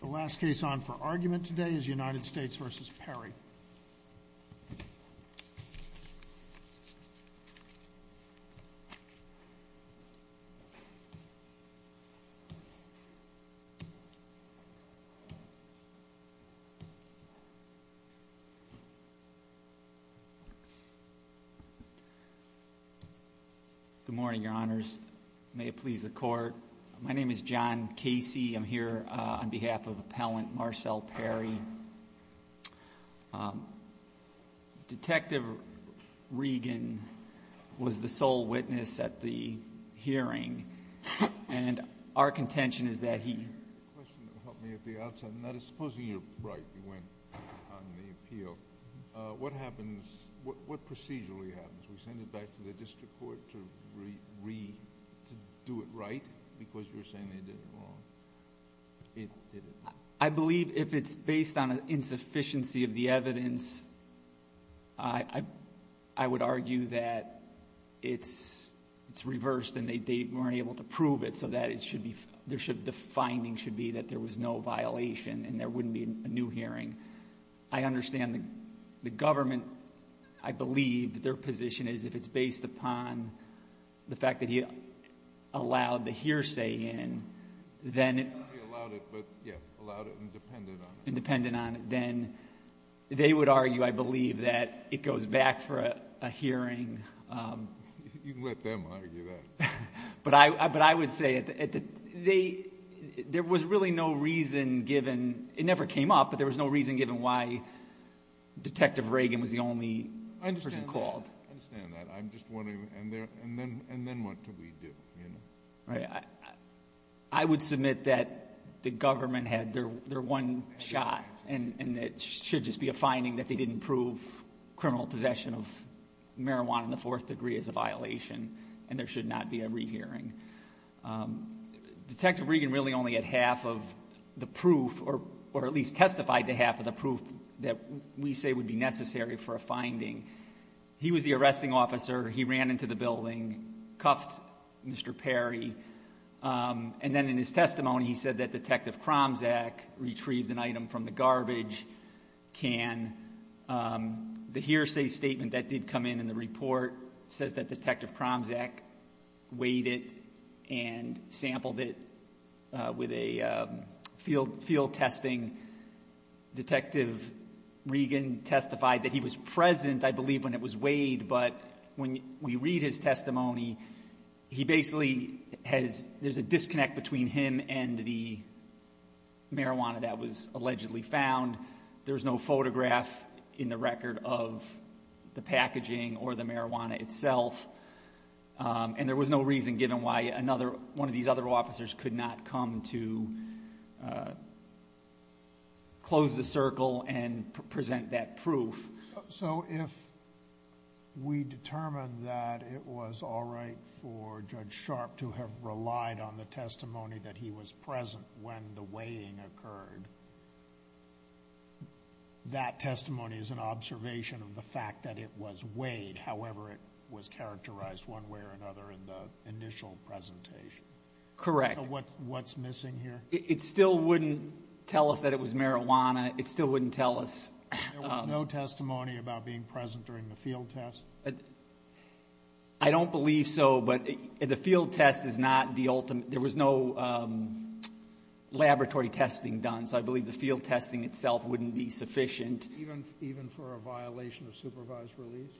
The last case on for argument today is United States v. Perry. Good morning, Your Honors. May it please the Court. My name is John Casey. I'm here on behalf of Appellant Marcel Perry. Detective Regan was the sole witness at the hearing, and our contention is that he You had a question that helped me at the outset, and that is, supposing you're right, you went on the appeal, what happens, what procedurally happens? We send it back to the district court to do it right? Because you're saying they did it wrong. I believe if it's based on an insufficiency of the evidence, I would argue that it's reversed, and they weren't able to prove it, so the finding should be that there was no violation, and there wouldn't be a new hearing. I understand the government, I believe their position is, if it's based upon the fact that he allowed the hearsay in, then Not only allowed it, but allowed it and depended on it. And depended on it, then they would argue, I believe, that it goes back for a hearing. You can let them argue that. But I would say, there was really no reason given, it never came up, but there was no reason given why Detective Regan was the only person called. I understand that, I'm just wondering, and then what do we do? I would submit that the government had their one shot, and it should just be a finding that they didn't prove criminal possession of marijuana in the fourth degree as a violation, and there should not be a rehearing. Detective Regan really only had half of the proof, or at least testified to half of the proof, that we say would be necessary for a finding. He was the arresting officer, he ran into the building, cuffed Mr. Perry, and then in his testimony, he said that Detective Kromzak retrieved an item from the garbage can. The hearsay statement that did come in in the report says that Detective Kromzak weighed it and sampled it with a field testing. Detective Regan testified that he was present, I believe, when it was weighed, but when we read his testimony, he basically has, there's a disconnect between him and the marijuana that was allegedly found. There's no photograph in the record of the packaging or the marijuana itself, and there was no reason given why one of these other officers could not come to close the circle and present that proof. So if we determine that it was all right for Judge Sharp to have relied on the testimony that he was present when the weighing occurred, that testimony is an observation of the fact that it was weighed, however it was characterized one way or another in the initial presentation. Correct. So what's missing here? It still wouldn't tell us that it was marijuana. It still wouldn't tell us. There was no testimony about being present during the field test? I don't believe so, but the field test is not the ultimate. There was no laboratory testing done, so I believe the field testing itself wouldn't be sufficient. Even for a violation of supervised release?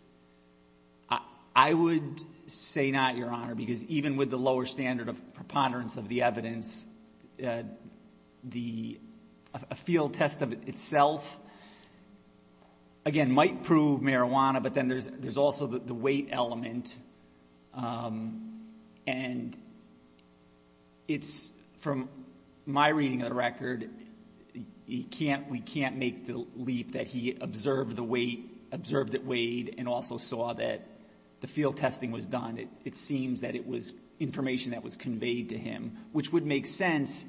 I would say not, Your Honor, because even with the lower standard of preponderance of the evidence, a field test of itself, again, might prove marijuana, but then there's also the weight element, and it's from my reading of the record, we can't make the leap that he observed the weight, observed it weighed, and also saw that the field testing was done. It seems that it was information that was conveyed to him, which would make sense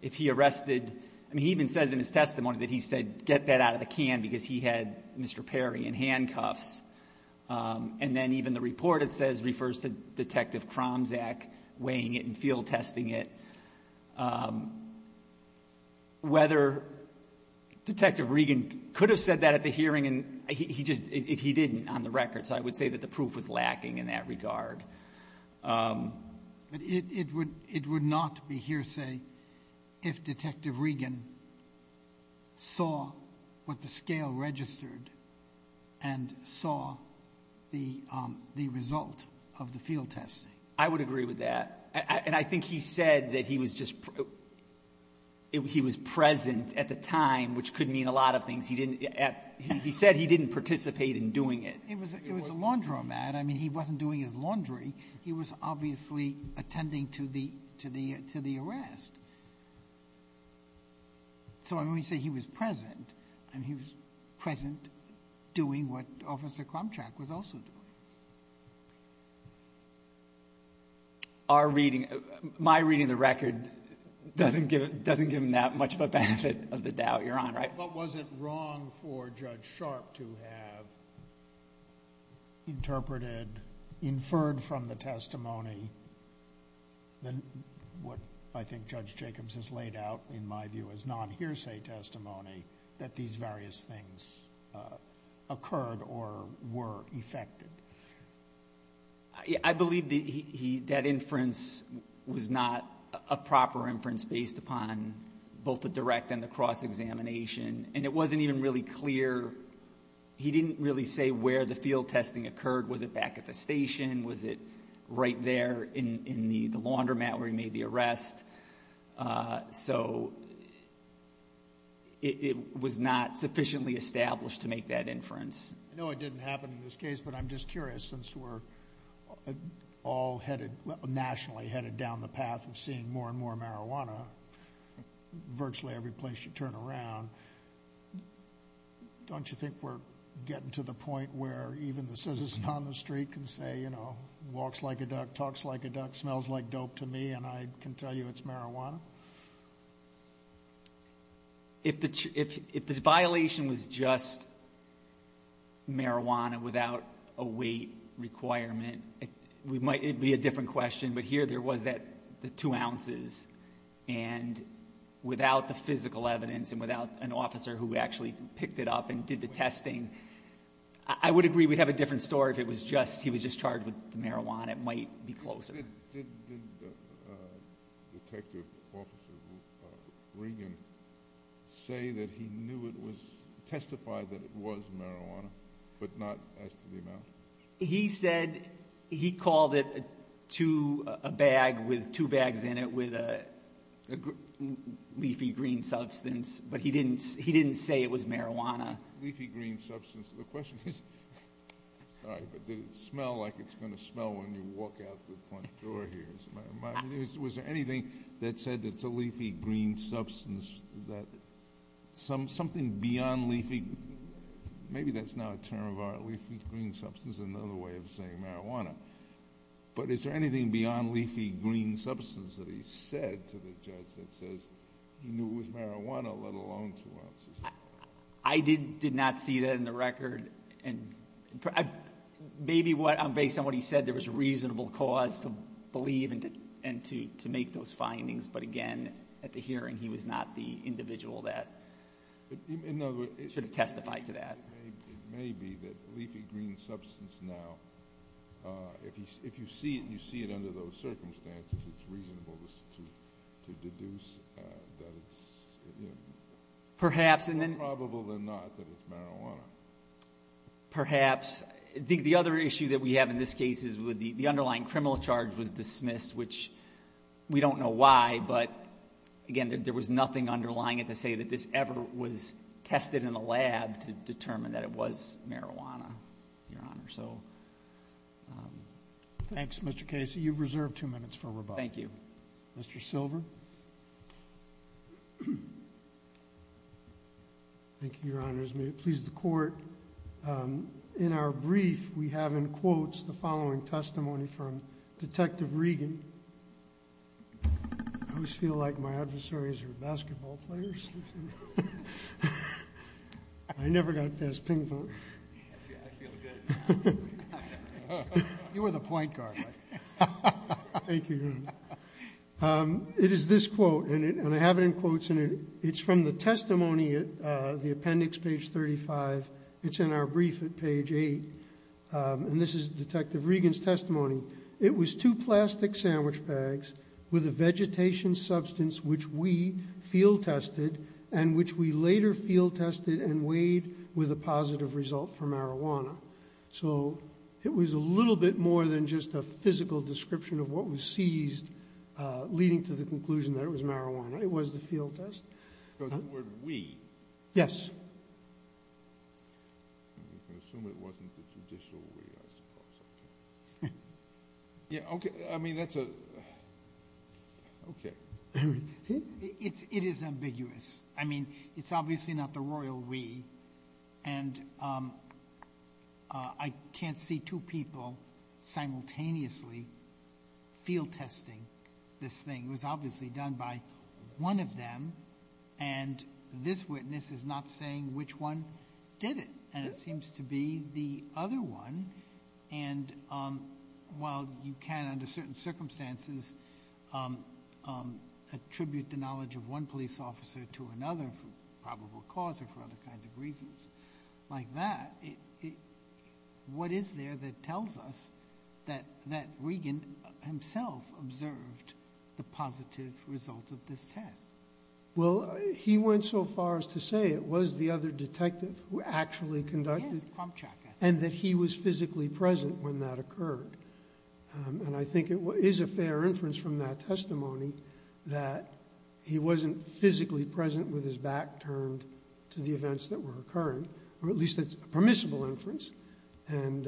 if he arrested — I mean, he even says in his testimony that he said get that out of the can because he had Mr. Perry in handcuffs. And then even the report, it says, refers to Detective Kromzak weighing it and field testing it. Whether Detective Regan could have said that at the hearing, he just — he didn't on the record, so I would say that the proof was lacking in that regard. But it would not be hearsay if Detective Regan saw what the scale registered and saw the result of the field testing. I would agree with that. And I think he said that he was just — he was present at the time, which could mean a lot of things. He said he didn't participate in doing it. It was a laundromat. I mean, he wasn't doing his laundry. He was obviously attending to the arrest. So I mean, when you say he was present, I mean, he was present doing what Officer Kromzak was also doing. Our reading — my reading of the record doesn't give him that much of a benefit of the doubt you're on, right? What was it wrong for Judge Sharp to have interpreted, inferred from the testimony, what I think Judge Jacobs has laid out in my view as non-hearsay testimony, that these various things occurred or were effected? I believe that he — that inference was not a proper inference based upon both the direct and the cross-examination. And it wasn't even really clear — he didn't really say where the field testing occurred. Was it back at the station? Was it right there in the laundromat where he made the arrest? So it was not sufficiently established to make that inference. I know it didn't happen in this case, but I'm just curious, since we're all headed — nationally headed down the path of seeing more and more marijuana virtually every place you turn around, don't you think we're getting to the point where even the citizen on the street can say, you know, walks like a duck, talks like a duck, smells like dope to me, and I can tell you it's marijuana? If the violation was just marijuana without a weight requirement, it might be a different question. But here there was the two ounces. And without the physical evidence and without an officer who actually picked it up and did the testing, I would agree we'd have a different story if it was just — he was just charged with marijuana. It might be closer. Did Detective Officer Regan say that he knew it was — testified that it was marijuana but not as to the amount? He said he called it a bag with two bags in it with a leafy green substance, but he didn't say it was marijuana. Leafy green substance. The question is — sorry, but did it smell like it's going to smell when you walk out the front door here? Was there anything that said it's a leafy green substance that — something beyond leafy — maybe that's now a term of art, leafy green substance, another way of saying marijuana. But is there anything beyond leafy green substance that he said to the judge that says he knew it was marijuana, let alone two ounces? I did not see that in the record. And maybe based on what he said, there was a reasonable cause to believe and to make those findings. But again, at the hearing, he was not the individual that should have testified to that. It may be that leafy green substance now, if you see it and you see it under those circumstances, it's reasonable to deduce that it's — Perhaps. It's more probable than not that it's marijuana. Perhaps. The other issue that we have in this case is the underlying criminal charge was dismissed, which we don't know why, but again, there was nothing underlying it to say that this ever was tested in a lab to determine that it was marijuana, Your Honor. Thanks, Mr. Casey. You've reserved two minutes for rebuttal. Thank you. Mr. Silver. Thank you, Your Honors. May it please the Court, in our brief, we have in quotes the following testimony from Detective Regan. I always feel like my adversaries are basketball players. I never got past ping-pong. I feel good. You were the point guard. Thank you, Your Honor. It is this quote, and I have it in quotes, and it's from the testimony at the appendix, page 35. It's in our brief at page 8, and this is Detective Regan's testimony. It was two plastic sandwich bags with a vegetation substance which we field-tested and which we later field-tested and weighed with a positive result for marijuana. So it was a little bit more than just a physical description of what was seized, leading to the conclusion that it was marijuana. It was the field test. The word we? Yes. I'm going to assume it wasn't the judicial we, I suppose. I mean, that's a ‑‑ okay. It is ambiguous. I mean, it's obviously not the royal we. And I can't see two people simultaneously field-testing this thing. It was obviously done by one of them, and this witness is not saying which one did it, and it seems to be the other one. And while you can, under certain circumstances, attribute the knowledge of one police officer to another for probable cause or for other kinds of reasons like that, what is there that tells us that Regan himself observed the positive result of this test? Well, he went so far as to say it was the other detective who actually conducted it. Yes, Kromchak. And that he was physically present when that occurred. And I think it is a fair inference from that testimony that he wasn't physically present with his back turned to the events that were occurring, or at least that's a permissible inference. And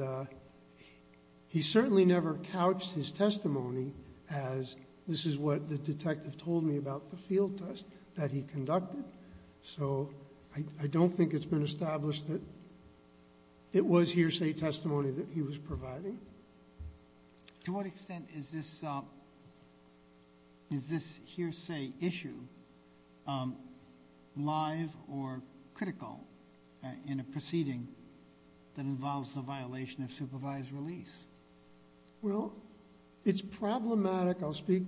he certainly never couched his testimony as this is what the detective told me about the field test that he conducted. So I don't think it's been established that it was hearsay testimony that he was providing. To what extent is this hearsay issue live or critical in a proceeding that involves the violation of supervised release? Well, it's problematic. I'll speak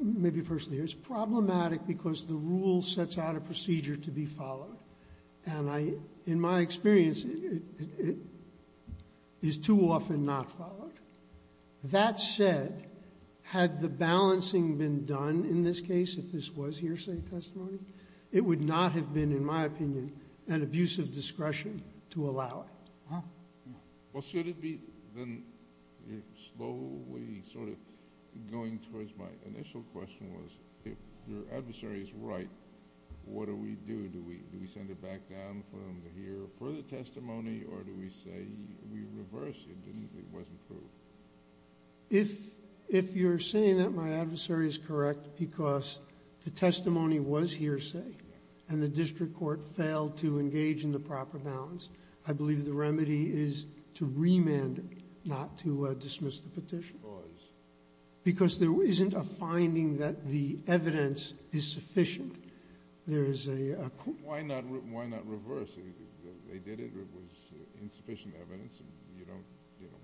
maybe personally. It's problematic because the rule sets out a procedure to be followed. And in my experience, it is too often not followed. That said, had the balancing been done in this case, if this was hearsay testimony, it would not have been, in my opinion, an abuse of discretion to allow it. Well, should it be then you're slowly sort of going towards my initial question, was if your adversary is right, what do we do? Do we send it back down for them to hear further testimony, or do we say we reverse it? It wasn't proved. If you're saying that my adversary is correct because the testimony was hearsay and the district court failed to engage in the proper balance, I believe the remedy is to remand it, not to dismiss the petition. Because? Because there isn't a finding that the evidence is sufficient. There is a quotation. Why not reverse? They did it. It was insufficient evidence.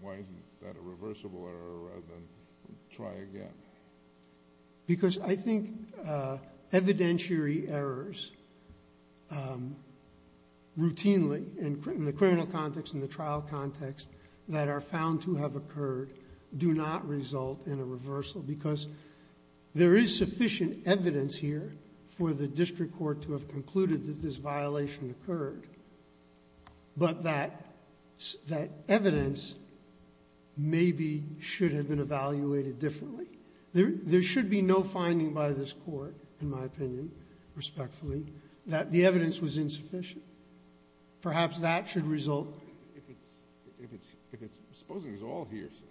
Why isn't that a reversible error rather than try again? Because I think evidentiary errors routinely in the criminal context and the trial context that are found to have occurred do not result in a reversal. Because there is sufficient evidence here for the district court to have concluded that this violation occurred, but that evidence maybe should have been evaluated differently. There should be no finding by this Court, in my opinion, respectfully, that the evidence was insufficient. Perhaps that should result. If it's – if it's – supposing it's all hearsay,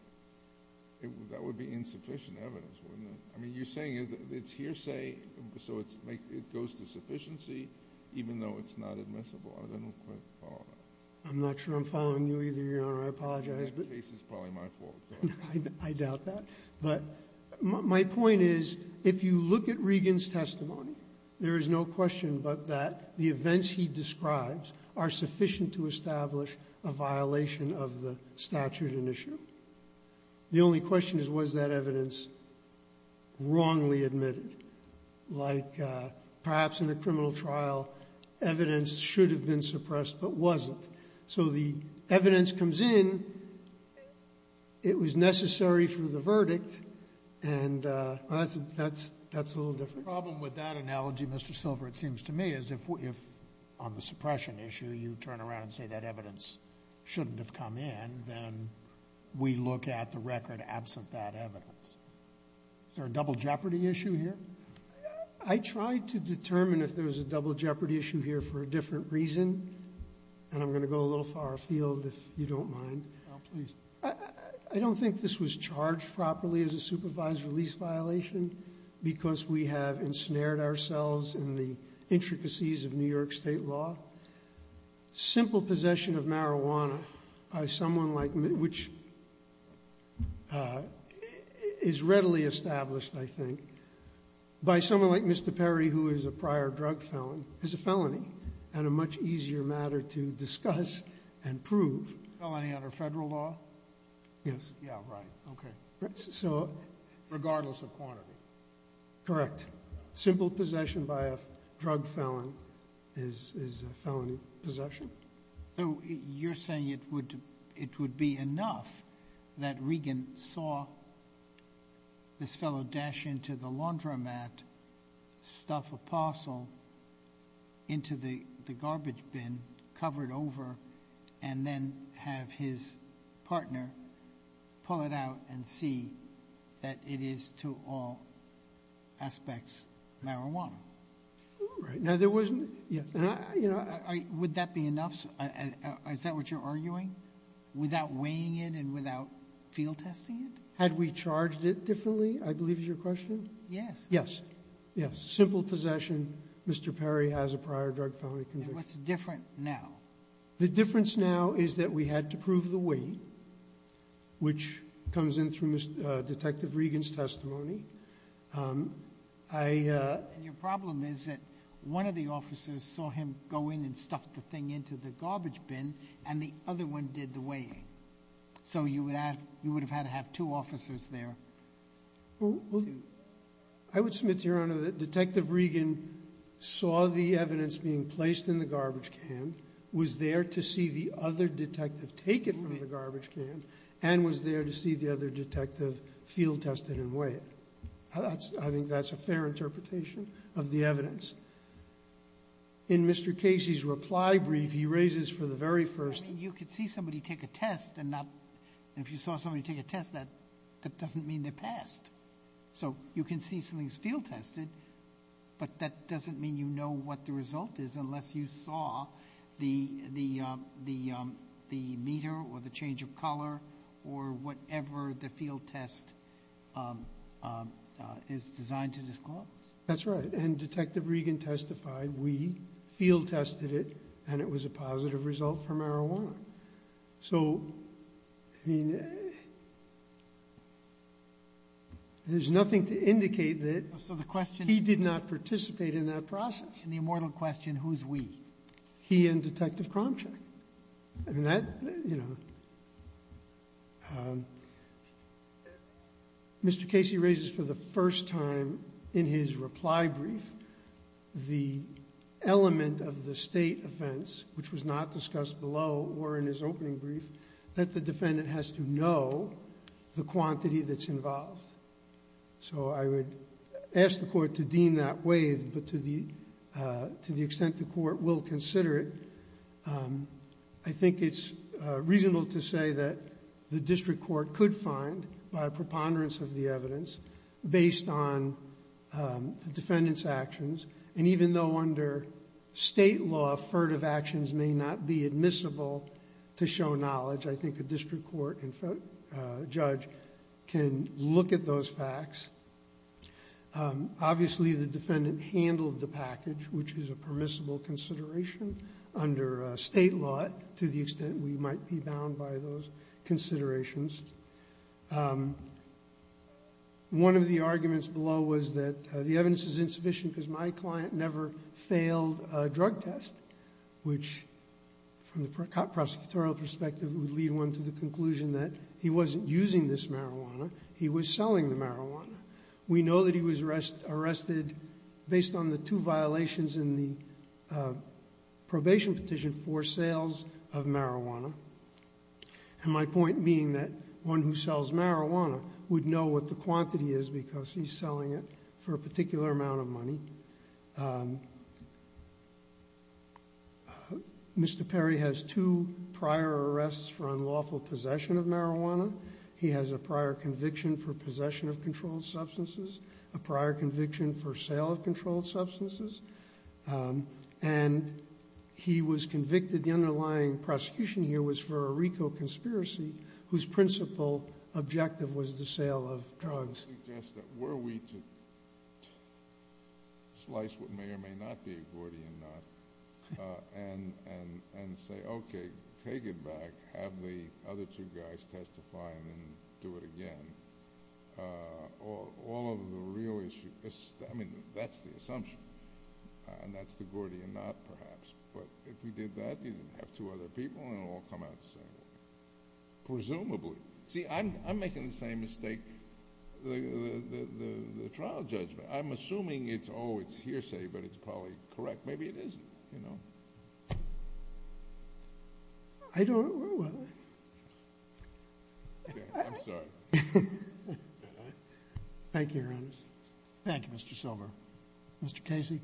that would be insufficient evidence, wouldn't it? I mean, you're saying it's hearsay, so it's – it goes to sufficiency, even though it's not admissible. I don't quite follow that. I'm not sure I'm following you either, Your Honor. I apologize. The case is probably my fault. I doubt that. But my point is, if you look at Regan's testimony, there is no question but that the events he describes are sufficient to establish a violation of the statute in issue. The only question is, was that evidence wrongly admitted? Like, perhaps in a criminal trial, evidence should have been suppressed but wasn't. So the evidence comes in. It was necessary for the verdict. And that's – that's a little different. The problem with that analogy, Mr. Silver, it seems to me, is if on the suppression issue you turn around and say that evidence shouldn't have come in, then we look at the record absent that evidence. Is there a double jeopardy issue here? I tried to determine if there was a double jeopardy issue here for a different reason, and I'm going to go a little far afield if you don't mind. Oh, please. I don't think this was charged properly as a supervised release violation because we have ensnared ourselves in the intricacies of New York State law. Simple possession of marijuana by someone like – which is readily established, I think, by someone like Mr. Perry, who is a prior drug felon, is a felony and a much easier matter to discuss and prove. Felony under Federal law? Yes. Yeah, right. Okay. So – Regardless of quantity. Correct. Simple possession by a drug felon is a felony possession. So you're saying it would be enough that Regan saw this fellow dash into the laundromat, stuff a parcel into the garbage bin, cover it over, and then have his partner pull it out and see that it is, to all aspects, marijuana? Right. Now, there wasn't – yeah. Would that be enough? Is that what you're arguing? Without weighing it and without field testing it? Had we charged it differently, I believe is your question? Yes. Yes. Yes. Simple possession. Mr. Perry has a prior drug felony conviction. What's different now? The difference now is that we had to prove the weight, which comes in through Detective Regan's testimony. I – And your problem is that one of the officers saw him go in and stuff the thing into the garbage bin, and the other one did the weighing. So you would have had to have two officers there. Well, I would submit to Your Honor that Detective Regan saw the evidence being placed in the garbage can, was there to see the other detective take it from the garbage can, and was there to see the other detective field test it and weigh it. I think that's a fair interpretation of the evidence. In Mr. Casey's reply brief, he raises for the very first time – I mean, you could see somebody take a test and not – and if you saw somebody take a test, that doesn't mean they passed. So you can see something's field tested, but that doesn't mean you know what the test is. You saw the meter or the change of color or whatever the field test is designed to disclose. That's right. And Detective Regan testified we field tested it, and it was a positive result for marijuana. So, I mean, there's nothing to indicate that he did not participate in that process. In the immortal question, who's we? He and Detective Kromchak. I mean, that, you know – Mr. Casey raises for the first time in his reply brief the element of the State offense, which was not discussed below or in his opening brief, that the defendant has to know the quantity that's involved. So I would ask the Court to deem that waived. But to the extent the Court will consider it, I think it's reasonable to say that the district court could find, by preponderance of the evidence, based on the defendant's actions. And even though under State law, furtive actions may not be admissible to show Obviously, the defendant handled the package, which is a permissible consideration under State law to the extent we might be bound by those considerations. One of the arguments below was that the evidence is insufficient because my client never failed a drug test, which, from the prosecutorial perspective, would lead one to the conclusion that he wasn't using this marijuana. He was selling the marijuana. We know that he was arrested based on the two violations in the probation petition for sales of marijuana. And my point being that one who sells marijuana would know what the quantity is because he's selling it for a particular amount of money. Mr. Perry has two prior arrests for unlawful possession of marijuana. He has a prior conviction for possession of controlled substances, a prior conviction for sale of controlled substances. And he was convicted, the underlying prosecution here was for a RICO conspiracy whose principal objective was the sale of drugs. I suggest that were we to slice what may or may not be a Gordian knot and say, okay, take it back, have the other two guys testify, and then do it again, all of the real issues, I mean, that's the assumption. And that's the Gordian knot, perhaps. But if we did that, you'd have two other people, and it would all come out the same way. Presumably. See, I'm making the same mistake, the trial judgment. I'm assuming it's, oh, it's hearsay, but it's probably correct. Maybe it isn't, you know. I don't know. I'm sorry. Thank you, Your Honors. Thank you, Mr. Silver. Mr. Casey.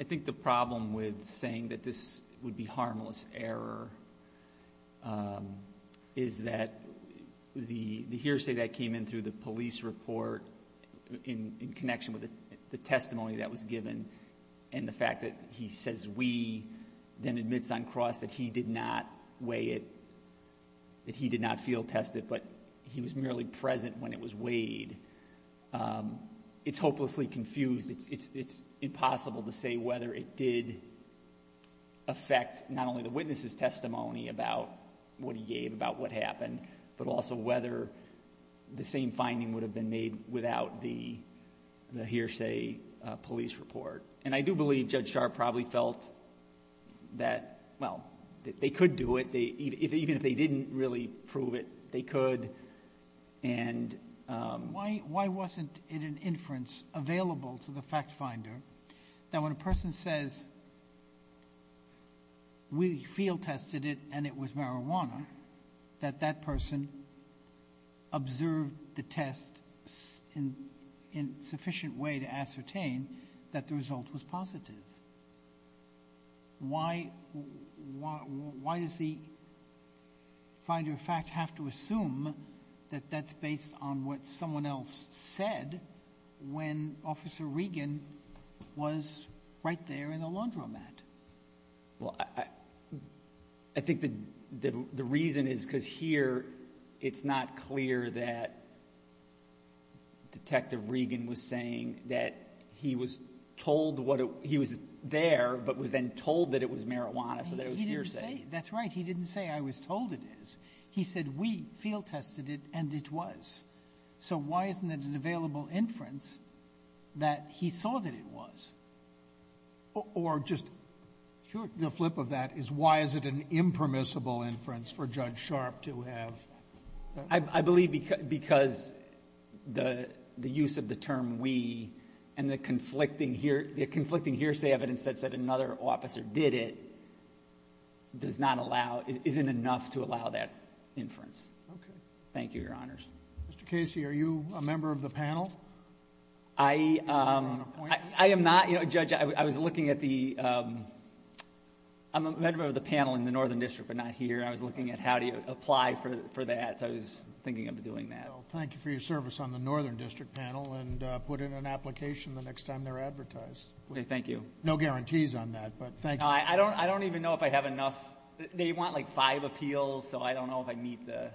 I think the problem with saying that this would be harmless error is that the hearsay that came in through the police report in connection with the testimony that was given and the fact that he says we, then admits on cross that he did not weigh it, that he did not field test it, but he was merely present when it was weighed, it's hopelessly confused. It's impossible to say whether it did affect not only the witness' testimony about what he gave, about what happened, but also whether the same finding would have been made without the hearsay police report. And I do believe Judge Sharp probably felt that, well, they could do it. Even if they didn't really prove it, they could. Why wasn't it an inference available to the fact finder that when a person says we field tested it and it was marijuana, that that person observed the test in sufficient way to ascertain that the result was positive? Why does the finder of fact have to assume that that's based on what someone else said when Officer Regan was right there in the laundromat? Well, I think the reason is because here it's not clear that Detective Regan was saying that he was told what he was there, but was then told that it was marijuana, so there was hearsay. He didn't say. That's right. He didn't say I was told it is. He said we field tested it and it was. So why isn't it an available inference that he saw that it was? Or just the flip of that is why is it an impermissible inference for Judge Sharp to have? I believe because the use of the term we and the conflicting hearsay evidence that said another officer did it doesn't allow... isn't enough to allow that inference. Okay. Thank you, Your Honors. Mr. Casey, are you a member of the panel? I am not, Judge. I was looking at the... I'm a member of the panel in the Northern District, but not here. I was looking at how do you apply for that, so I was thinking of doing that. Well, thank you for your service on the Northern District panel and put in an application the next time they're advertised. Okay. Thank you. No guarantees on that, but thank you. I don't even know if I have enough. They want like five appeals, so I don't know if I meet the...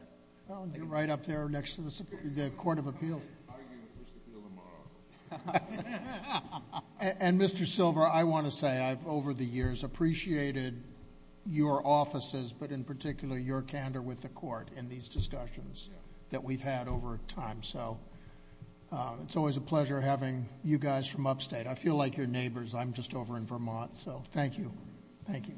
Well, you're right up there next to the Court of Appeals. I'm going to argue the first appeal tomorrow. And, Mr. Silver, I want to say I've over the years appreciated your offices, but in particular your candor with the court in these discussions that we've had over time. So it's always a pleasure having you guys from upstate. I feel like your neighbors. I'm just over in Vermont, so thank you. Thank you.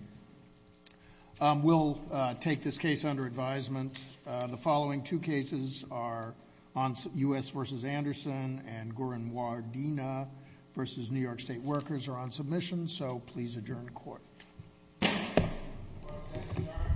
We'll take this case under advisement. The following two cases are U.S. v. Anderson and Gorin-Wardena v. New York State Workers are on submission, so please adjourn the court.